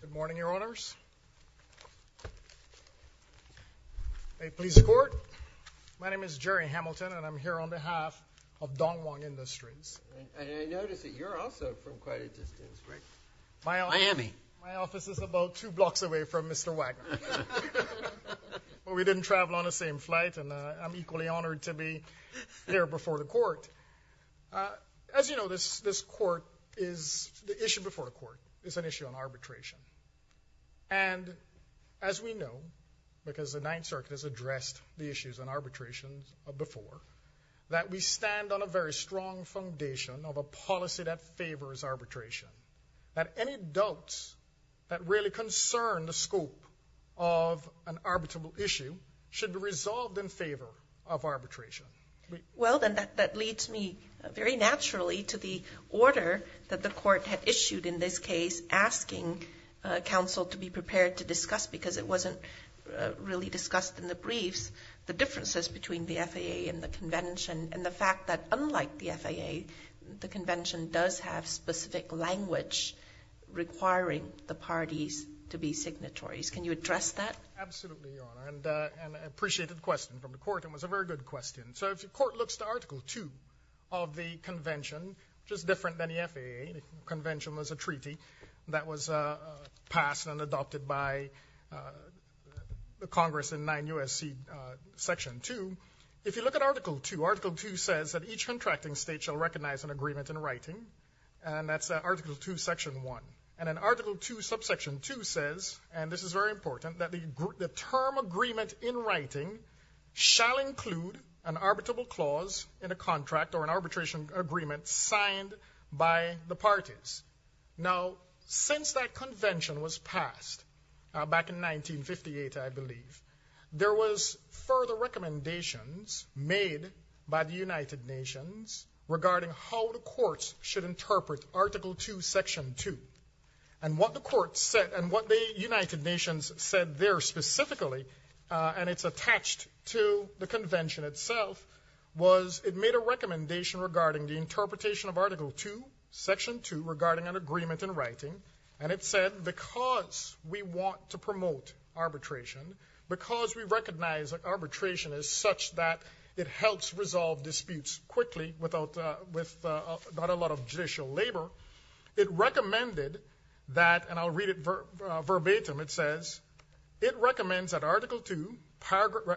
Good morning, Your Honours. May it please the Court. My name is Gerry Hamilton and I'm here on behalf of Dongwon Industries. And I notice that you're also from quite a distance. Miami. My office is about two blocks away from Mr. Wagner. We didn't travel on the same flight and I'm equally honoured to be here before the Court. As you know, the issue before the Court is an issue on arbitration. And as we know, because the Ninth Circuit has addressed the issues on arbitration before, that we stand on a very strong foundation of a policy that favours arbitration. That any doubts that really concern the scope of an arbitrable issue should be resolved in favour of arbitration. Well, then that leads me very naturally to the order that the Court had issued in this case, asking Council to be prepared to discuss, because it wasn't really discussed in the briefs, the differences between the FAA and the Convention. And the fact that unlike the FAA, the Convention does have specific language requiring the parties to be signatories. Absolutely, Your Honour. And an appreciated question from the Court. It was a very good question. So if the Court looks to Article 2 of the Convention, which is different than the FAA. The Convention was a treaty that was passed and adopted by the Congress in 9 U.S.C. Section 2. If you look at Article 2, Article 2 says that each contracting state shall recognise an agreement in writing. And that's Article 2, Section 1. And then Article 2, Subsection 2 says, and this is very important, that the term agreement in writing shall include an arbitrable clause in a contract or an arbitration agreement signed by the parties. Now, since that Convention was passed back in 1958, I believe, there was further recommendations made by the United Nations regarding how the Courts should interpret Article 2, Section 2. And what the United Nations said there specifically, and it's attached to the Convention itself, was it made a recommendation regarding the interpretation of Article 2, Section 2, regarding an agreement in writing. And it said, because we want to promote arbitration, because we recognise that arbitration is such that it helps resolve disputes quickly without a lot of judicial labour, it recommended that, and I'll read it verbatim, it says, it recommends that Article 2,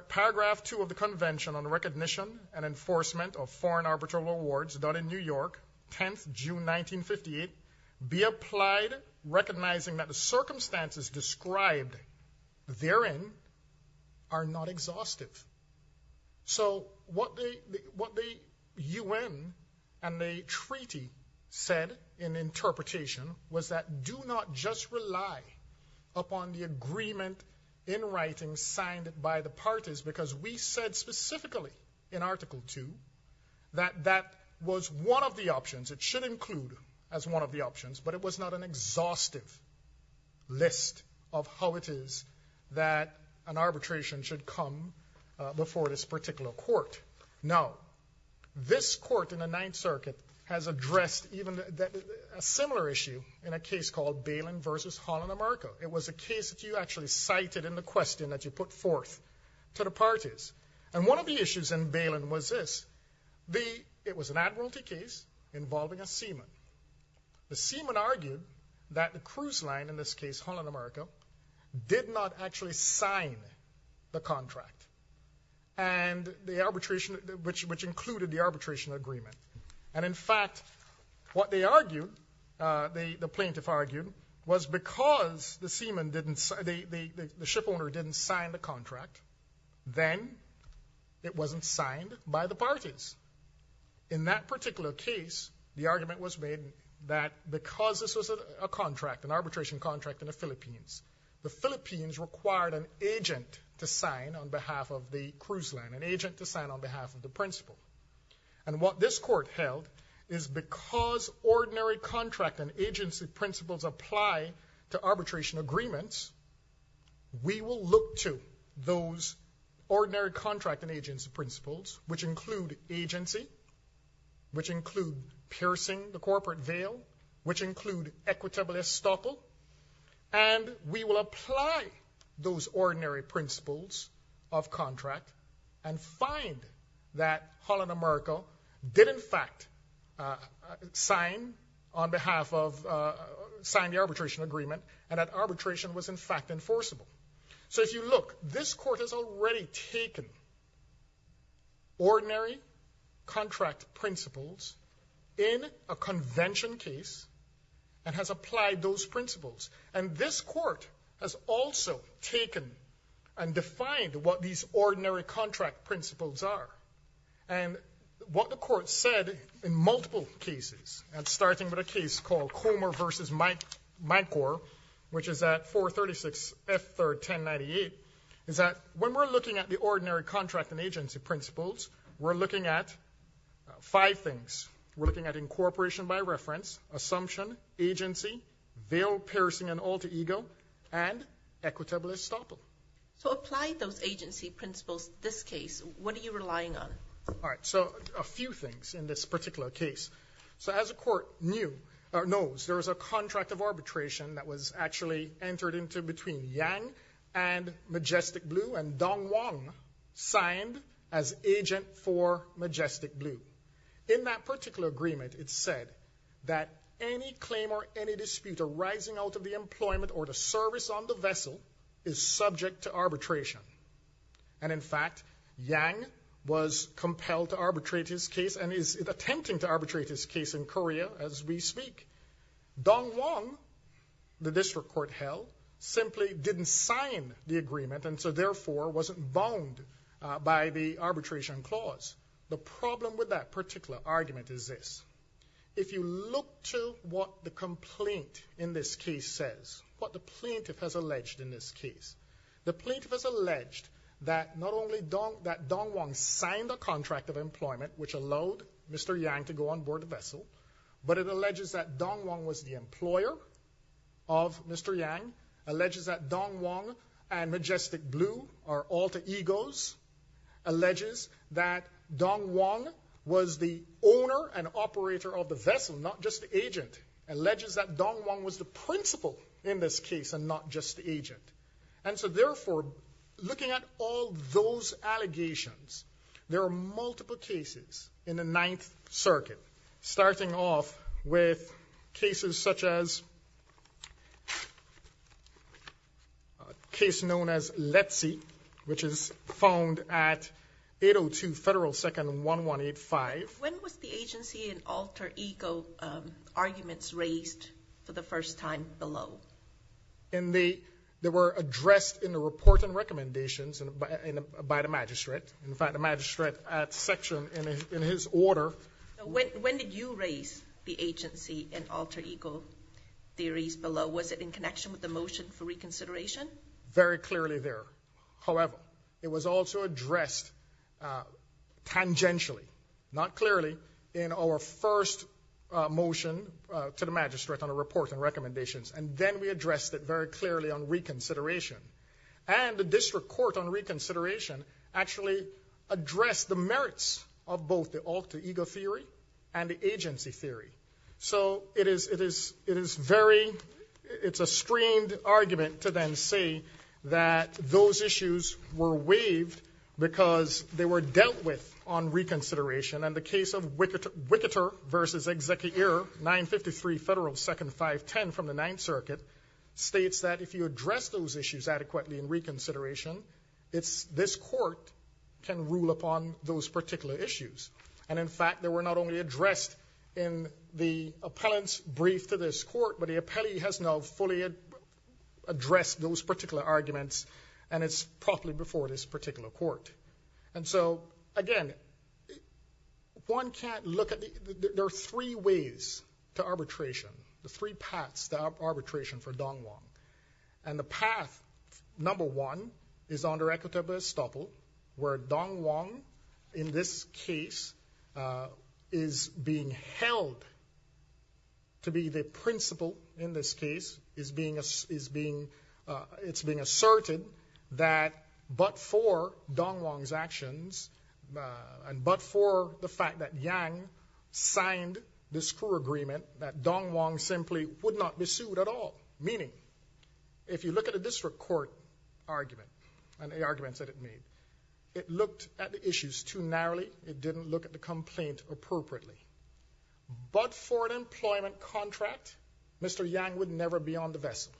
Paragraph 2 of the Convention on Recognition and Enforcement of Foreign Arbitral Awards, done in New York, 10th June 1958, be applied recognising that the circumstances described therein are not exhaustive. So what the UN and the Treaty said in interpretation was that do not just rely upon the agreement in writing signed by the parties, because we said specifically in Article 2 that that was one of the options, it should include as one of the options, but it was not an exhaustive list of how it is that an arbitration should come before this particular Court. Now, this Court in the Ninth Circuit has addressed a similar issue in a case called Balin v. Holland America. It was a case that you actually cited in the question that you put forth to the parties. And one of the issues in Balin was this. It was an admiralty case involving a seaman. The seaman argued that the cruise line, in this case Holland America, did not actually sign the contract, which included the arbitration agreement. And in fact, what they argued, the plaintiff argued, was because the shipowner didn't sign the contract, then it wasn't signed by the parties. In that particular case, the argument was made that because this was a contract, an arbitration contract in the Philippines, the Philippines required an agent to sign on behalf of the cruise line, an agent to sign on behalf of the principal. And what this Court held is because ordinary contract and agency principles apply to arbitration agreements, we will look to those ordinary contract and agency principles, which include agency, which include piercing the corporate veil, which include equitable estoppel, and we will apply those ordinary principles of contract and find that Holland America did in fact sign the arbitration agreement and that arbitration was in fact enforceable. So if you look, this Court has already taken ordinary contract principles in a convention case and has applied those principles. And this Court has also taken and defined what these ordinary contract principles are. And what the Court said in multiple cases, and starting with a case called Comer v. Madcor, which is at 436 F. 3rd 1098, is that when we're looking at the ordinary contract and agency principles, we're looking at five things. We're looking at incorporation by reference, assumption, agency, veil, piercing, and alter ego, and equitable estoppel. So apply those agency principles in this case. What are you relying on? All right, so a few things in this particular case. So as the Court knows, there was a contract of arbitration that was actually entered into between Yang and Majestic Blue and Dong Wang signed as agent for Majestic Blue. In that particular agreement, it said that any claim or any dispute arising out of the employment or the service on the vessel is subject to arbitration. And in fact, Yang was compelled to arbitrate his case and is attempting to arbitrate his case in Korea as we speak. Dong Wang, the district court held, simply didn't sign the agreement and so therefore wasn't bound by the arbitration clause. The problem with that particular argument is this. If you look to what the complaint in this case says, what the plaintiff has alleged in this case, the plaintiff has alleged that not only that Dong Wang signed a contract of employment which allowed Mr. Yang to go on board the vessel, but it alleges that Dong Wang was the employer of Mr. Yang, alleges that Dong Wang and Majestic Blue are alter egos, alleges that Dong Wang was the owner and operator of the vessel, not just the agent, alleges that Dong Wang was the principal in this case and not just the agent. And so therefore, looking at all those allegations, there are multiple cases in the Ninth Circuit, starting off with cases such as a case known as Letzi, which is found at 802 Federal 2nd 1185. When was the agency in alter ego arguments raised for the first time below? They were addressed in the report and recommendations by the magistrate. In fact, the magistrate had a section in his order. When did you raise the agency in alter ego theories below? Was it in connection with the motion for reconsideration? Very clearly there. However, it was also addressed tangentially, not clearly, in our first motion to the magistrate on a report and recommendations, and then we addressed it very clearly on reconsideration. And the district court on reconsideration actually addressed the merits of both the alter ego theory and the agency theory. So it is very, it's a strained argument to then say that those issues were waived because they were dealt with on reconsideration. And the case of Wicketer v. Executor 953 Federal 2nd 510 from the Ninth Circuit states that if you address those issues adequately in reconsideration, this court can rule upon those particular issues. And, in fact, they were not only addressed in the appellant's brief to this court, but the appellee has now fully addressed those particular arguments and it's properly before this particular court. And so, again, one can't look at the, there are three ways to arbitration, the three paths to arbitration for Dong Wong. And the path number one is under equitable estoppel where Dong Wong, in this case, is being held to be the principal in this case. It's being asserted that but for Dong Wong's actions and but for the fact that Yang signed this core agreement, that Dong Wong simply would not be sued at all. Meaning, if you look at a district court argument and the arguments that it made, it looked at the issues too narrowly. It didn't look at the complaint appropriately. But for an employment contract, Mr. Yang would never be on the vessel.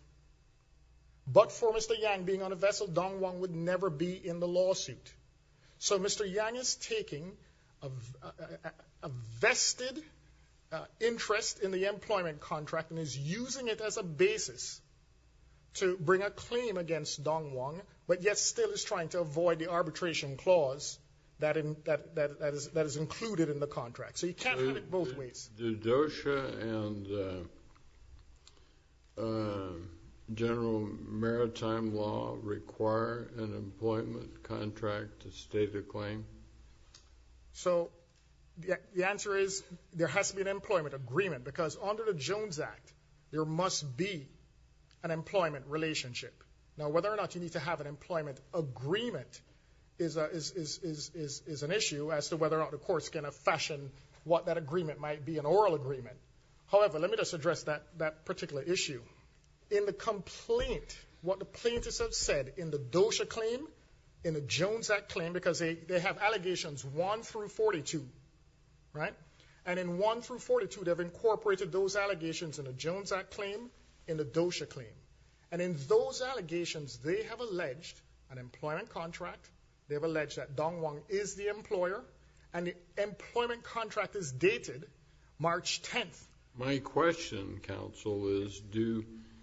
But for Mr. Yang being on a vessel, Dong Wong would never be in the lawsuit. So Mr. Yang is taking a vested interest in the employment contract and is using it as a basis to bring a claim against Dong Wong, but yet still is trying to avoid the arbitration clause that is included in the contract. So you can't have it both ways. Do DOSHA and general maritime law require an employment contract to state a claim? So the answer is there has to be an employment agreement because under the Jones Act, there must be an employment relationship. Now, whether or not you need to have an employment agreement is an issue as to whether or not the court's going to fashion what that agreement might be, an oral agreement. However, let me just address that particular issue. In the complaint, what the plaintiffs have said in the DOSHA claim, in the Jones Act claim, because they have allegations 1 through 42, right? And in 1 through 42, they've incorporated those allegations in the Jones Act claim, in the DOSHA claim. And in those allegations, they have alleged an employment contract. They have alleged that Dong Wong is the employer, and the employment contract is dated March 10th. My question, counsel, is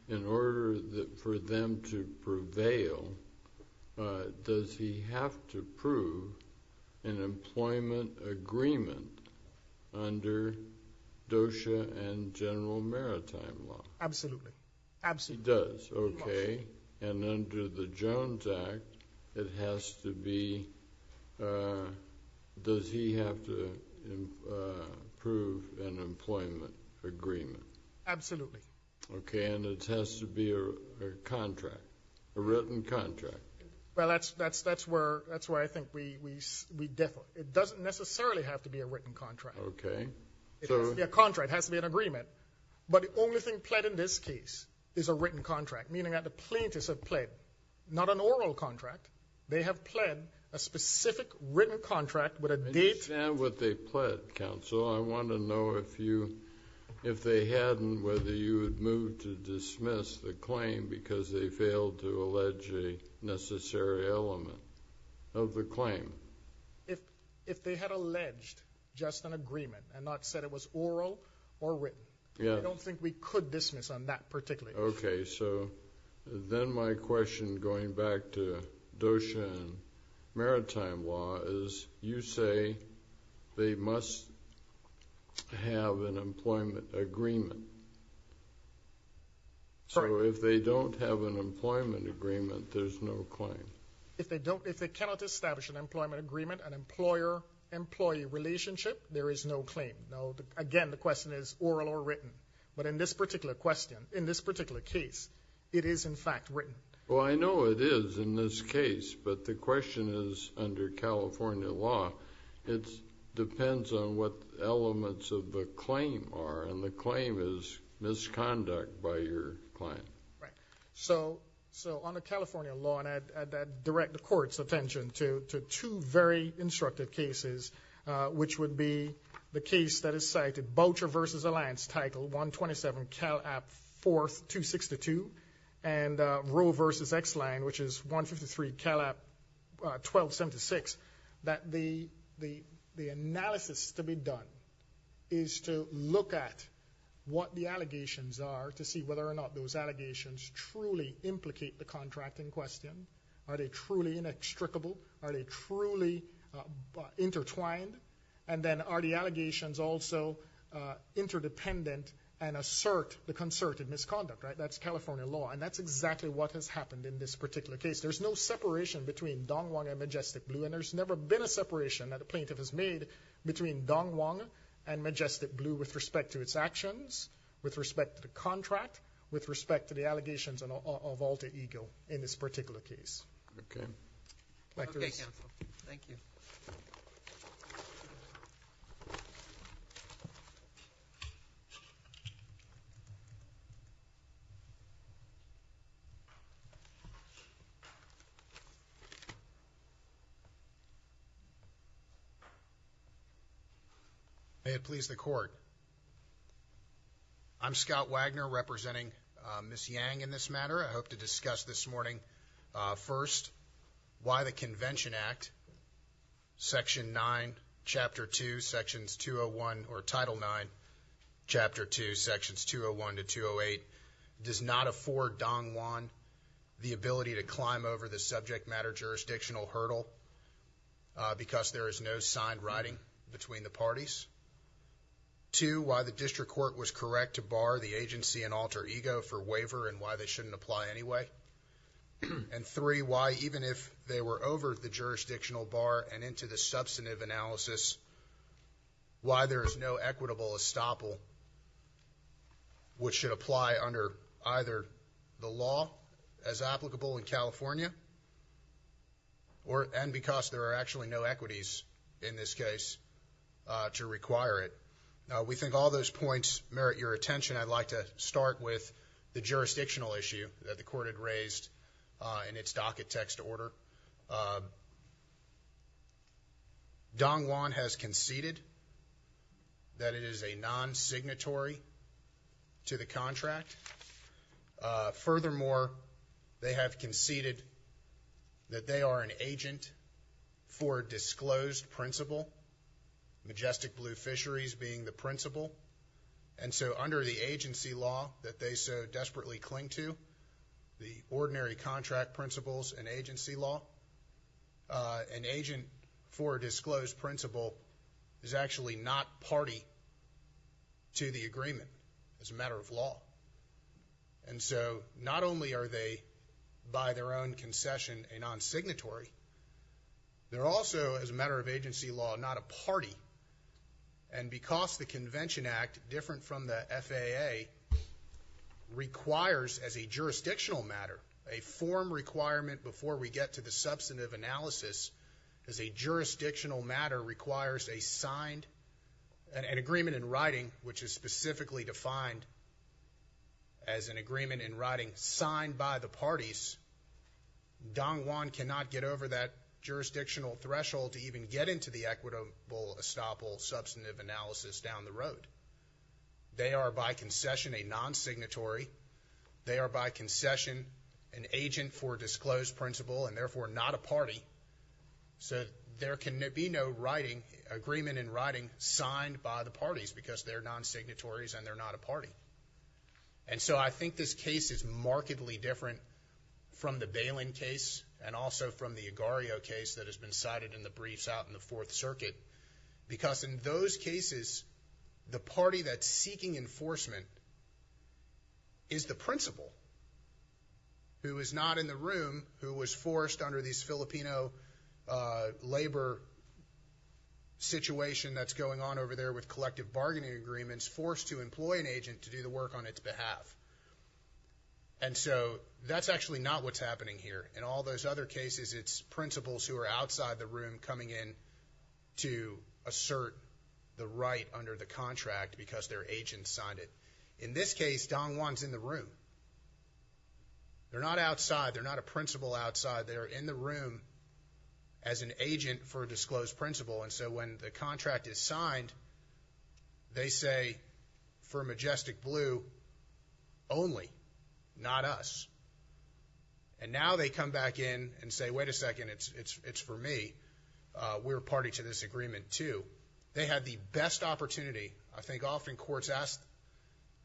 in order for them to prevail, does he have to prove an employment agreement under DOSHA and general maritime law? Absolutely. Absolutely. He does. Okay. And under the Jones Act, it has to be, does he have to prove an employment agreement? Absolutely. Okay. And it has to be a contract, a written contract. Well, that's where I think we differ. It doesn't necessarily have to be a written contract. Okay. It has to be a contract. It has to be an agreement. But the only thing pled in this case is a written contract, meaning that the plaintiffs have pled not an oral contract. They have pled a specific written contract with a date. I understand what they pled, counsel. I want to know if you, if they hadn't, whether you would move to dismiss the claim because they failed to allege a necessary element of the claim. If they had alleged just an agreement and not said it was oral or written, I don't think we could dismiss on that particularly. Okay. So then my question, going back to DOSHA and maritime law, is you say they must have an employment agreement. Sorry? So if they don't have an employment agreement, there's no claim. If they cannot establish an employment agreement, an employer-employee relationship, there is no claim. Again, the question is oral or written. But in this particular question, in this particular case, it is in fact written. Well, I know it is in this case, but the question is under California law, it depends on what elements of the claim are, and the claim is misconduct by your client. Right. So under California law, and I'd direct the Court's attention to two very instructive cases, which would be the case that is cited, Boucher v. Alliance, title 127, Cal App 4262, and Roe v. Exline, which is 153, Cal App 1276, that the analysis to be done is to look at what the allegations are to see whether or not those allegations truly implicate the contract in question. Are they truly inextricable? Are they truly intertwined? And then are the allegations also interdependent and assert the concerted misconduct? That's California law, and that's exactly what has happened in this particular case. There's no separation between Dong Wang and Majestic Blue, and there's never been a separation that a plaintiff has made between Dong Wang and Majestic Blue with respect to its actions, with respect to the contract, with respect to the allegations of Alta Eagle in this particular case. Okay. Thank you. Thank you. May it please the Court. I'm Scott Wagner, representing Ms. Yang in this matter. I hope to discuss this morning, first, why the Convention Act, Section 9, Chapter 2, Sections 201 or Title 9, Chapter 2, Sections 201 to 208, does not afford Dong Wang the ability to climb over the subject matter jurisdictional hurdle because there is no signed writing between the parties. Two, why the district court was correct to bar the agency in Alta Eagle for waiver and why they shouldn't apply anyway. And three, why even if they were over the jurisdictional bar and into the substantive analysis, why there is no equitable estoppel which should apply under either the law as applicable in California and because there are actually no equities in this case to require it. Now, we think all those points merit your attention. I'd like to start with the jurisdictional issue that the court had raised in its docket text order. Dong Wang has conceded that it is a non-signatory to the contract. Furthermore, they have conceded that they are an agent for disclosed principle, majestic blue fisheries being the principle, and so under the agency law that they so desperately cling to, the ordinary contract principles and agency law, an agent for disclosed principle is actually not party to the agreement as a matter of law. And so not only are they by their own concession a non-signatory, they're also, as a matter of agency law, not a party. And because the Convention Act, different from the FAA, requires as a jurisdictional matter, a form requirement before we get to the substantive analysis, as a jurisdictional matter requires an agreement in writing, which is specifically defined as an agreement in writing signed by the parties, Dong Wang cannot get over that jurisdictional threshold to even get into the equitable estoppel substantive analysis down the road. They are by concession a non-signatory. They are by concession an agent for disclosed principle and therefore not a party. So there can be no agreement in writing signed by the parties because they're non-signatories and they're not a party. And so I think this case is markedly different from the Balin case and also from the Agar.io case that has been cited in the briefs out in the Fourth Circuit because in those cases, the party that's seeking enforcement is the principal, who is not in the room, who was forced under this Filipino labor situation that's going on over there with collective bargaining agreements, is forced to employ an agent to do the work on its behalf. And so that's actually not what's happening here. In all those other cases, it's principals who are outside the room coming in to assert the right under the contract because their agent signed it. In this case, Dong Wang's in the room. They're not outside. They're not a principal outside. They're in the room as an agent for a disclosed principle. And so when the contract is signed, they say, for Majestic Blue only, not us. And now they come back in and say, wait a second, it's for me. We're a party to this agreement too. They had the best opportunity. I think often courts ask,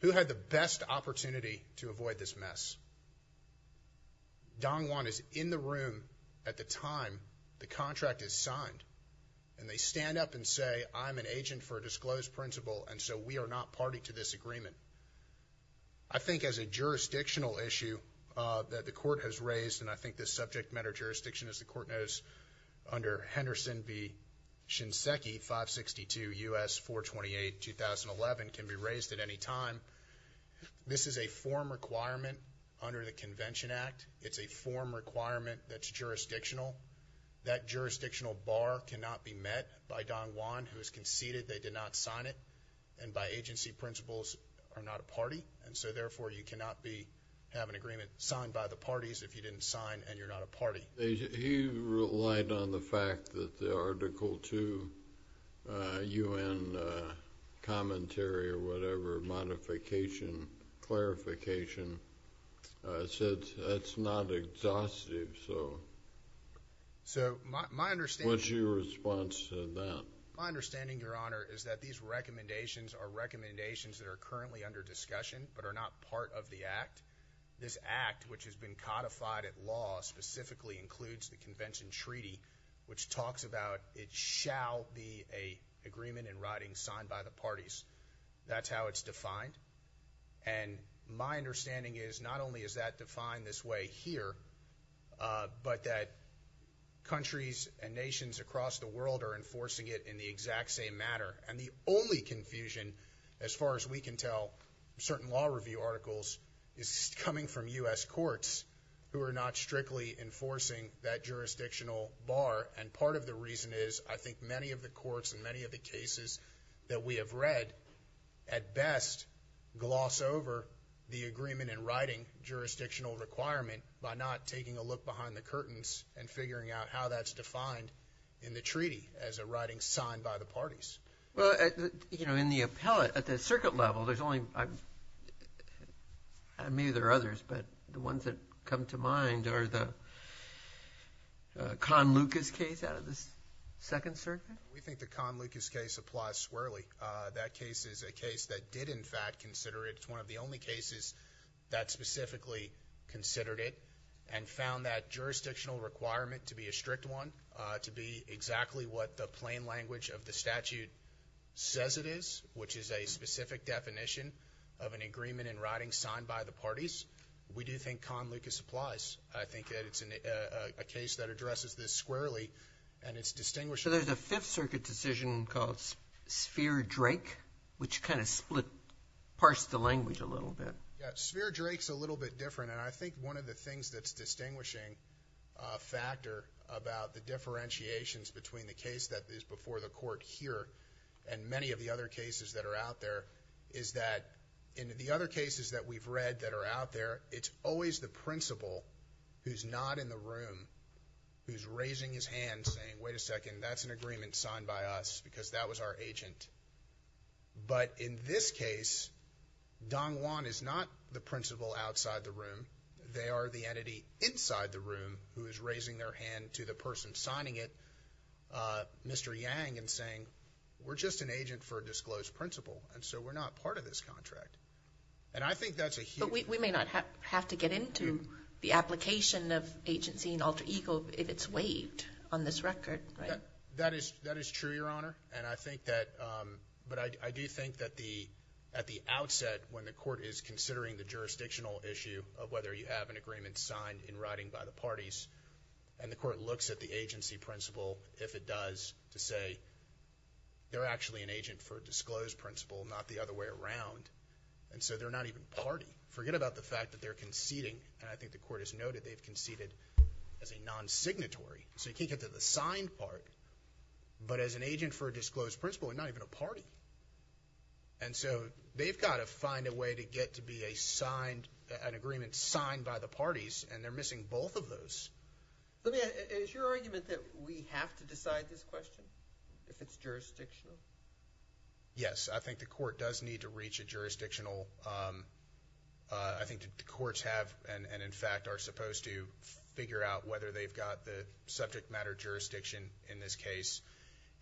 who had the best opportunity to avoid this mess? Dong Wang is in the room at the time the contract is signed, and they stand up and say, I'm an agent for a disclosed principle, and so we are not party to this agreement. I think as a jurisdictional issue that the court has raised, and I think this subject matter jurisdiction, as the court knows, under Henderson v. Shinseki, 562 U.S. 428, 2011, can be raised at any time. This is a form requirement under the Convention Act. It's a form requirement that's jurisdictional. That jurisdictional bar cannot be met by Dong Wang, who has conceded they did not sign it, and by agency principles are not a party, and so therefore you cannot have an agreement signed by the parties He relied on the fact that the Article 2 U.N. commentary or whatever, modification, clarification, said that's not exhaustive, so what's your response to that? My understanding, Your Honor, is that these recommendations are recommendations that are currently under discussion but are not part of the Act. This Act, which has been codified at law, specifically includes the Convention Treaty, which talks about it shall be an agreement in writing signed by the parties. That's how it's defined, and my understanding is not only is that defined this way here, but that countries and nations across the world are enforcing it in the exact same manner, and the only confusion, as far as we can tell, certain law review articles, is coming from U.S. courts who are not strictly enforcing that jurisdictional bar, and part of the reason is I think many of the courts in many of the cases that we have read at best gloss over the agreement in writing jurisdictional requirement by not taking a look behind the curtains and figuring out how that's defined in the treaty as a writing signed by the parties. Well, you know, in the appellate, at the circuit level, there's only, maybe there are others, but the ones that come to mind are the Khan-Lucas case out of the Second Circuit? We think the Khan-Lucas case applies squarely. That case is a case that did, in fact, consider it. It's one of the only cases that specifically considered it and found that jurisdictional requirement to be a strict one, to be exactly what the plain language of the statute says it is, which is a specific definition of an agreement in writing signed by the parties. We do think Khan-Lucas applies. I think that it's a case that addresses this squarely, and it's distinguished. So there's a Fifth Circuit decision called Sphere Drake, which kind of split, parsed the language a little bit. Yeah, Sphere Drake's a little bit different, and I think one of the things that's a distinguishing factor about the differentiations between the case that is before the Court here and many of the other cases that are out there is that in the other cases that we've read that are out there, it's always the principal who's not in the room who's raising his hand saying, wait a second, that's an agreement signed by us because that was our agent. But in this case, Dong Wan is not the principal outside the room. They are the entity inside the room who is raising their hand to the person signing it, Mr. Yang, and saying we're just an agent for a disclosed principal, and so we're not part of this contract. And I think that's a huge— But we may not have to get into the application of agency and alter ego if it's waived on this record, right? That is true, Your Honor, and I think that— but I do think that at the outset when the Court is considering the jurisdictional issue of whether you have an agreement signed in writing by the parties, and the Court looks at the agency principal, if it does, to say they're actually an agent for a disclosed principal, not the other way around, and so they're not even party. Forget about the fact that they're conceding, and I think the Court has noted they've conceded as a non-signatory. So you can't get to the signed part, but as an agent for a disclosed principal and not even a party. And so they've got to find a way to get to be a signed—an agreement signed by the parties, and they're missing both of those. Is your argument that we have to decide this question if it's jurisdictional? Yes, I think the Court does need to reach a jurisdictional— subject matter jurisdiction in this case.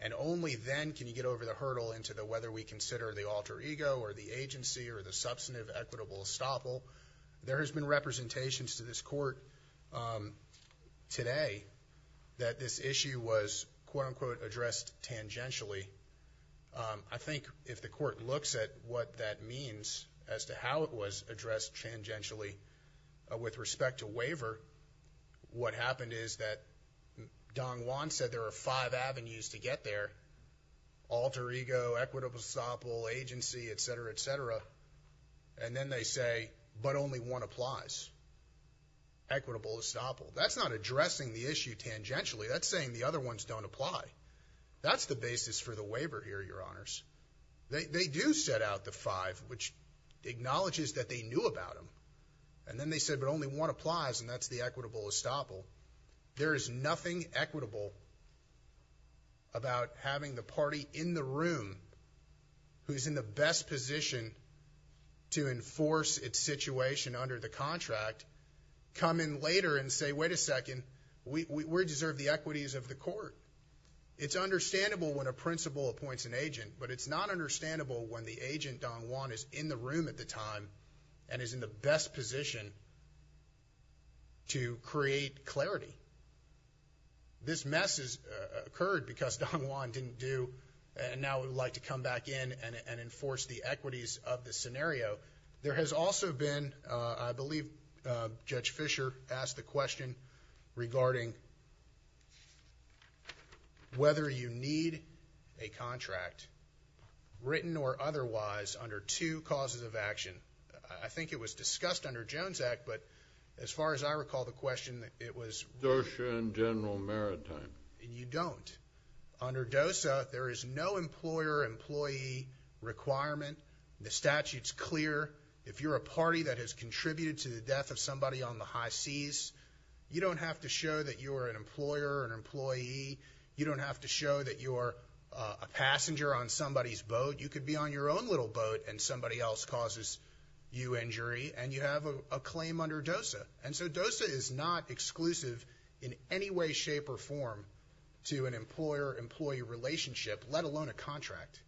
And only then can you get over the hurdle into whether we consider the alter ego or the agency or the substantive equitable estoppel. There has been representations to this Court today that this issue was, quote-unquote, addressed tangentially. I think if the Court looks at what that means as to how it was addressed tangentially with respect to waiver, what happened is that Don Juan said there are five avenues to get there—alter ego, equitable estoppel, agency, etc., etc. And then they say, but only one applies—equitable estoppel. That's not addressing the issue tangentially. That's saying the other ones don't apply. That's the basis for the waiver here, Your Honors. They do set out the five, which acknowledges that they knew about them. And then they said, but only one applies, and that's the equitable estoppel. There is nothing equitable about having the party in the room who's in the best position to enforce its situation under the contract come in later and say, wait a second, we deserve the equities of the Court. It's understandable when a principal appoints an agent, but it's not understandable when the agent, Don Juan, is in the room at the time and is in the best position to create clarity. This mess has occurred because Don Juan didn't do, and now would like to come back in and enforce the equities of the scenario. There has also been, I believe Judge Fischer asked the question, regarding whether you need a contract, written or otherwise, under two causes of action. I think it was discussed under Jones Act, but as far as I recall the question, it was— DOSA and General Maritime. You don't. Under DOSA, there is no employer-employee requirement. The statute's clear. If you're a party that has contributed to the death of somebody on the high seas, you don't have to show that you're an employer or an employee. You don't have to show that you're a passenger on somebody's boat. You could be on your own little boat and somebody else causes you injury, and you have a claim under DOSA. And so DOSA is not exclusive in any way, shape, or form to an employer-employee relationship, let alone a contract.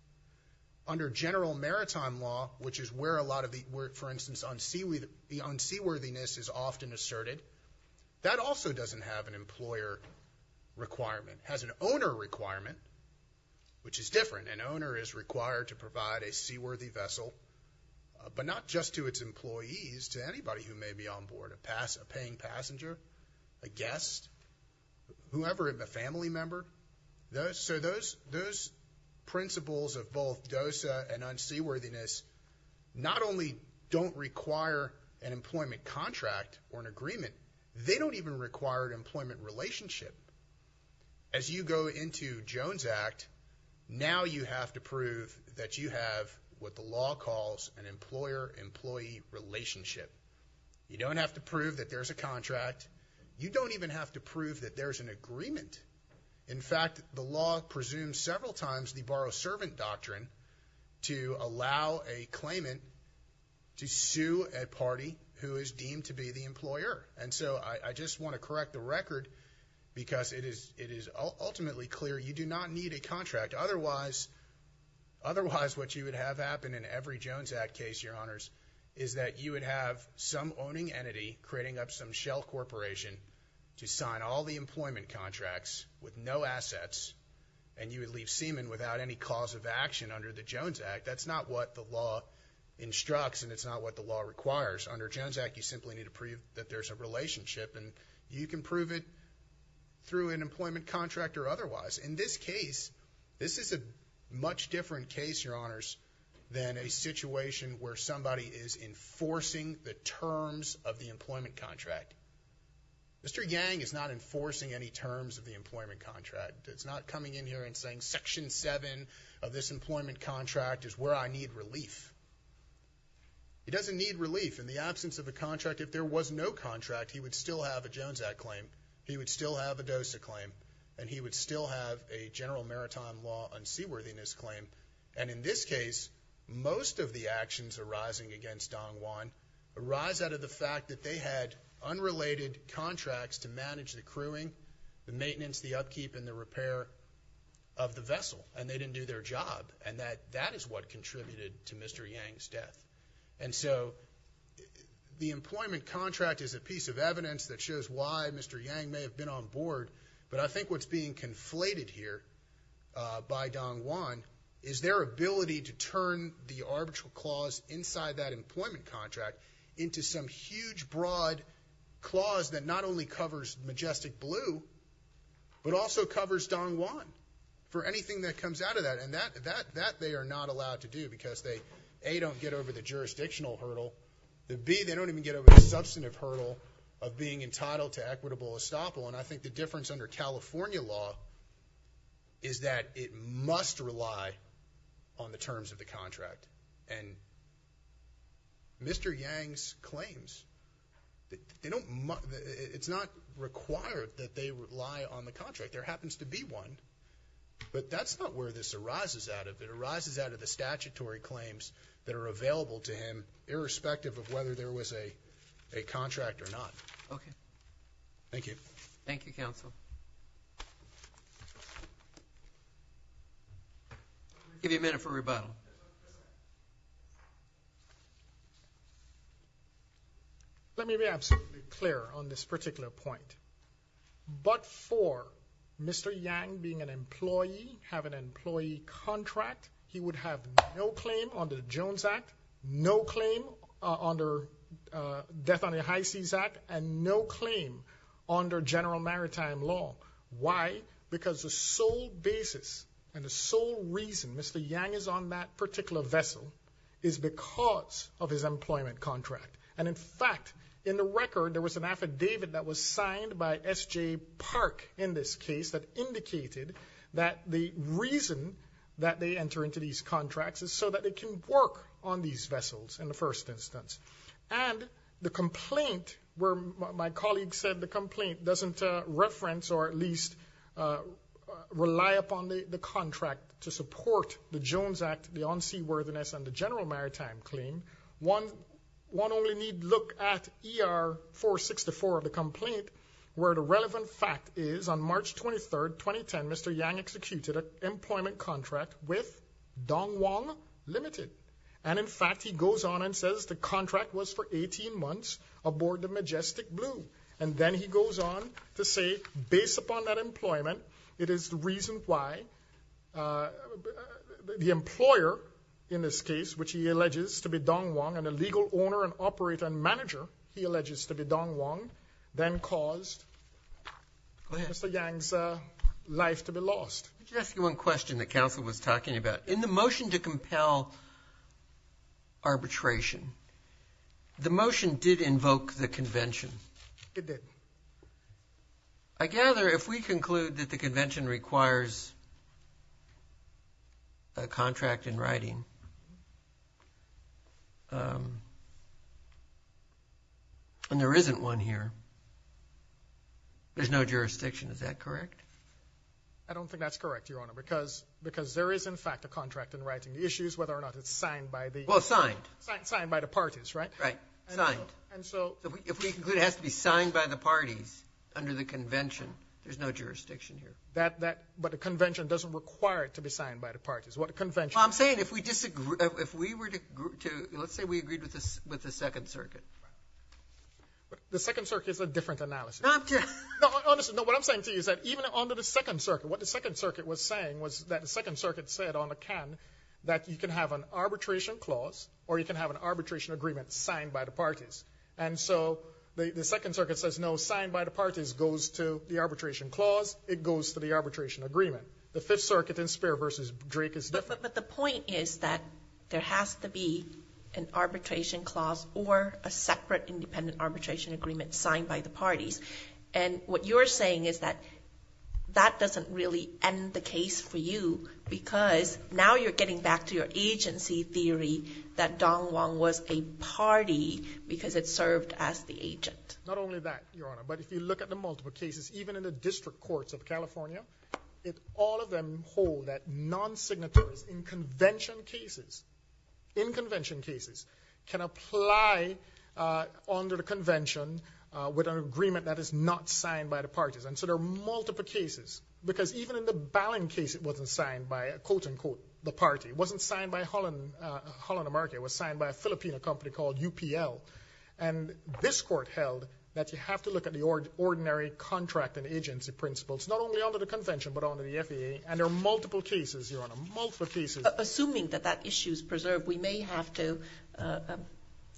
Under General Maritime law, which is where a lot of the, for instance, unseaworthiness is often asserted, that also doesn't have an employer requirement. It has an owner requirement, which is different. An owner is required to provide a seaworthy vessel, but not just to its employees, to anybody who may be on board, a paying passenger, a guest, whoever, a family member. So those principles of both DOSA and unseaworthiness not only don't require an employment contract or an agreement, they don't even require an employment relationship. As you go into Jones Act, now you have to prove that you have what the law calls an employer-employee relationship. You don't have to prove that there's a contract. You don't even have to prove that there's an agreement. In fact, the law presumes several times the borrow-servant doctrine to allow a claimant to sue a party who is deemed to be the employer. And so I just want to correct the record because it is ultimately clear you do not need a contract. Otherwise, what you would have happen in every Jones Act case, Your Honors, is that you would have some owning entity creating up some shell corporation to sign all the employment contracts with no assets, and you would leave Seaman without any cause of action under the Jones Act. That's not what the law instructs, and it's not what the law requires. Under Jones Act, you simply need to prove that there's a relationship, and you can prove it through an employment contract or otherwise. In this case, this is a much different case, Your Honors, than a situation where somebody is enforcing the terms of the employment contract. Mr. Yang is not enforcing any terms of the employment contract. It's not coming in here and saying Section 7 of this employment contract is where I need relief. He doesn't need relief. In the absence of a contract, if there was no contract, he would still have a Jones Act claim. He would still have a DOSA claim, and he would still have a general maritime law unseaworthiness claim. And in this case, most of the actions arising against Dong Wan arise out of the fact that they had unrelated contracts to manage the crewing, the maintenance, the upkeep, and the repair of the vessel, and they didn't do their job. And that is what contributed to Mr. Yang's death. And so the employment contract is a piece of evidence that shows why Mr. Yang may have been on board, but I think what's being conflated here by Dong Wan is their ability to turn the arbitral clause inside that employment contract into some huge, broad clause that not only covers Majestic Blue, but also covers Dong Wan for anything that comes out of that. And that they are not allowed to do because they, A, don't get over the jurisdictional hurdle, and B, they don't even get over the substantive hurdle of being entitled to equitable estoppel. And I think the difference under California law is that it must rely on the terms of the contract. And Mr. Yang's claims, it's not required that they rely on the contract. There happens to be one, but that's not where this arises out of. It arises out of the statutory claims that are available to him, irrespective of whether there was a contract or not. Okay. Thank you. Thank you, Counsel. I'll give you a minute for rebuttal. Let me be absolutely clear on this particular point. But for Mr. Yang being an employee, have an employee contract, he would have no claim under the Jones Act, no claim under Death on the High Seas Act, and no claim under general maritime law. Why? Because the sole basis and the sole reason Mr. Yang is on that particular vessel is because of his employment contract. And, in fact, in the record, there was an affidavit that was signed by S.J. Park in this case that indicated that the reason that they enter into these contracts is so that they can work on these vessels in the first instance. And the complaint where my colleague said the complaint doesn't reference or at least rely upon the contract to support the Jones Act, the on-sea worthiness, and the general maritime claim, one only need look at ER 464 of the complaint where the relevant fact is on March 23, 2010, Mr. Yang executed an employment contract with Dong Wang Limited. And, in fact, he goes on and says the contract was for 18 months aboard the Majestic Blue. And then he goes on to say, based upon that employment, it is the reason why the employer, in this case, which he alleges to be Dong Wang and the legal owner and operator and manager he alleges to be Dong Wang, then caused Mr. Yang's life to be lost. Let me just ask you one question that counsel was talking about. In the motion to compel arbitration, the motion did invoke the convention. It did. I gather if we conclude that the convention requires a contract in writing, and there isn't one here, there's no jurisdiction. Is that correct? I don't think that's correct, Your Honor, because there is, in fact, a contract in writing. The issue is whether or not it's signed by the parties, right? Right, signed. If we conclude it has to be signed by the parties under the convention, there's no jurisdiction here. But a convention doesn't require it to be signed by the parties. Well, I'm saying if we disagree, if we were to, let's say we agreed with the Second Circuit. The Second Circuit is a different analysis. No, honestly, what I'm saying to you is that even under the Second Circuit, what the Second Circuit was saying was that the Second Circuit said on the can that you can have an arbitration clause or you can have an arbitration agreement signed by the parties. And so the Second Circuit says no, signed by the parties goes to the arbitration clause, it goes to the arbitration agreement. The Fifth Circuit in Spear v. Drake is different. But the point is that there has to be an arbitration clause or a separate independent arbitration agreement signed by the parties. And what you're saying is that that doesn't really end the case for you because now you're getting back to your agency theory that Don Wong was a party because it served as the agent. Not only that, Your Honor, but if you look at the multiple cases, even in the district courts of California, all of them hold that non-signatories in convention cases, in convention cases, can apply under the convention with an agreement that is not signed by the parties. And so there are multiple cases. Because even in the Ballin case, it wasn't signed by, quote, unquote, the party. It wasn't signed by Holland America. It was signed by a Filipino company called UPL. And this court held that you have to look at the ordinary contract and agency principles, not only under the convention but under the FAA. And there are multiple cases, Your Honor, multiple cases. Assuming that that issue is preserved, we may have to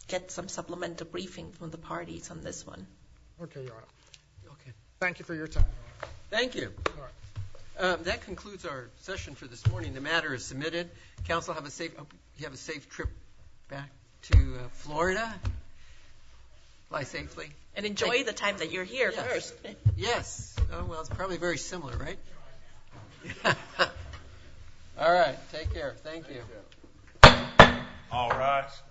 get some supplemental briefing from the parties on this one. Okay, Your Honor. Thank you for your time. Thank you. That concludes our session for this morning. The matter is submitted. Counsel, have a safe trip back to Florida. Fly safely. And enjoy the time that you're here. Yes. Well, it's probably very similar, right? All right. Take care. Thank you. All rise.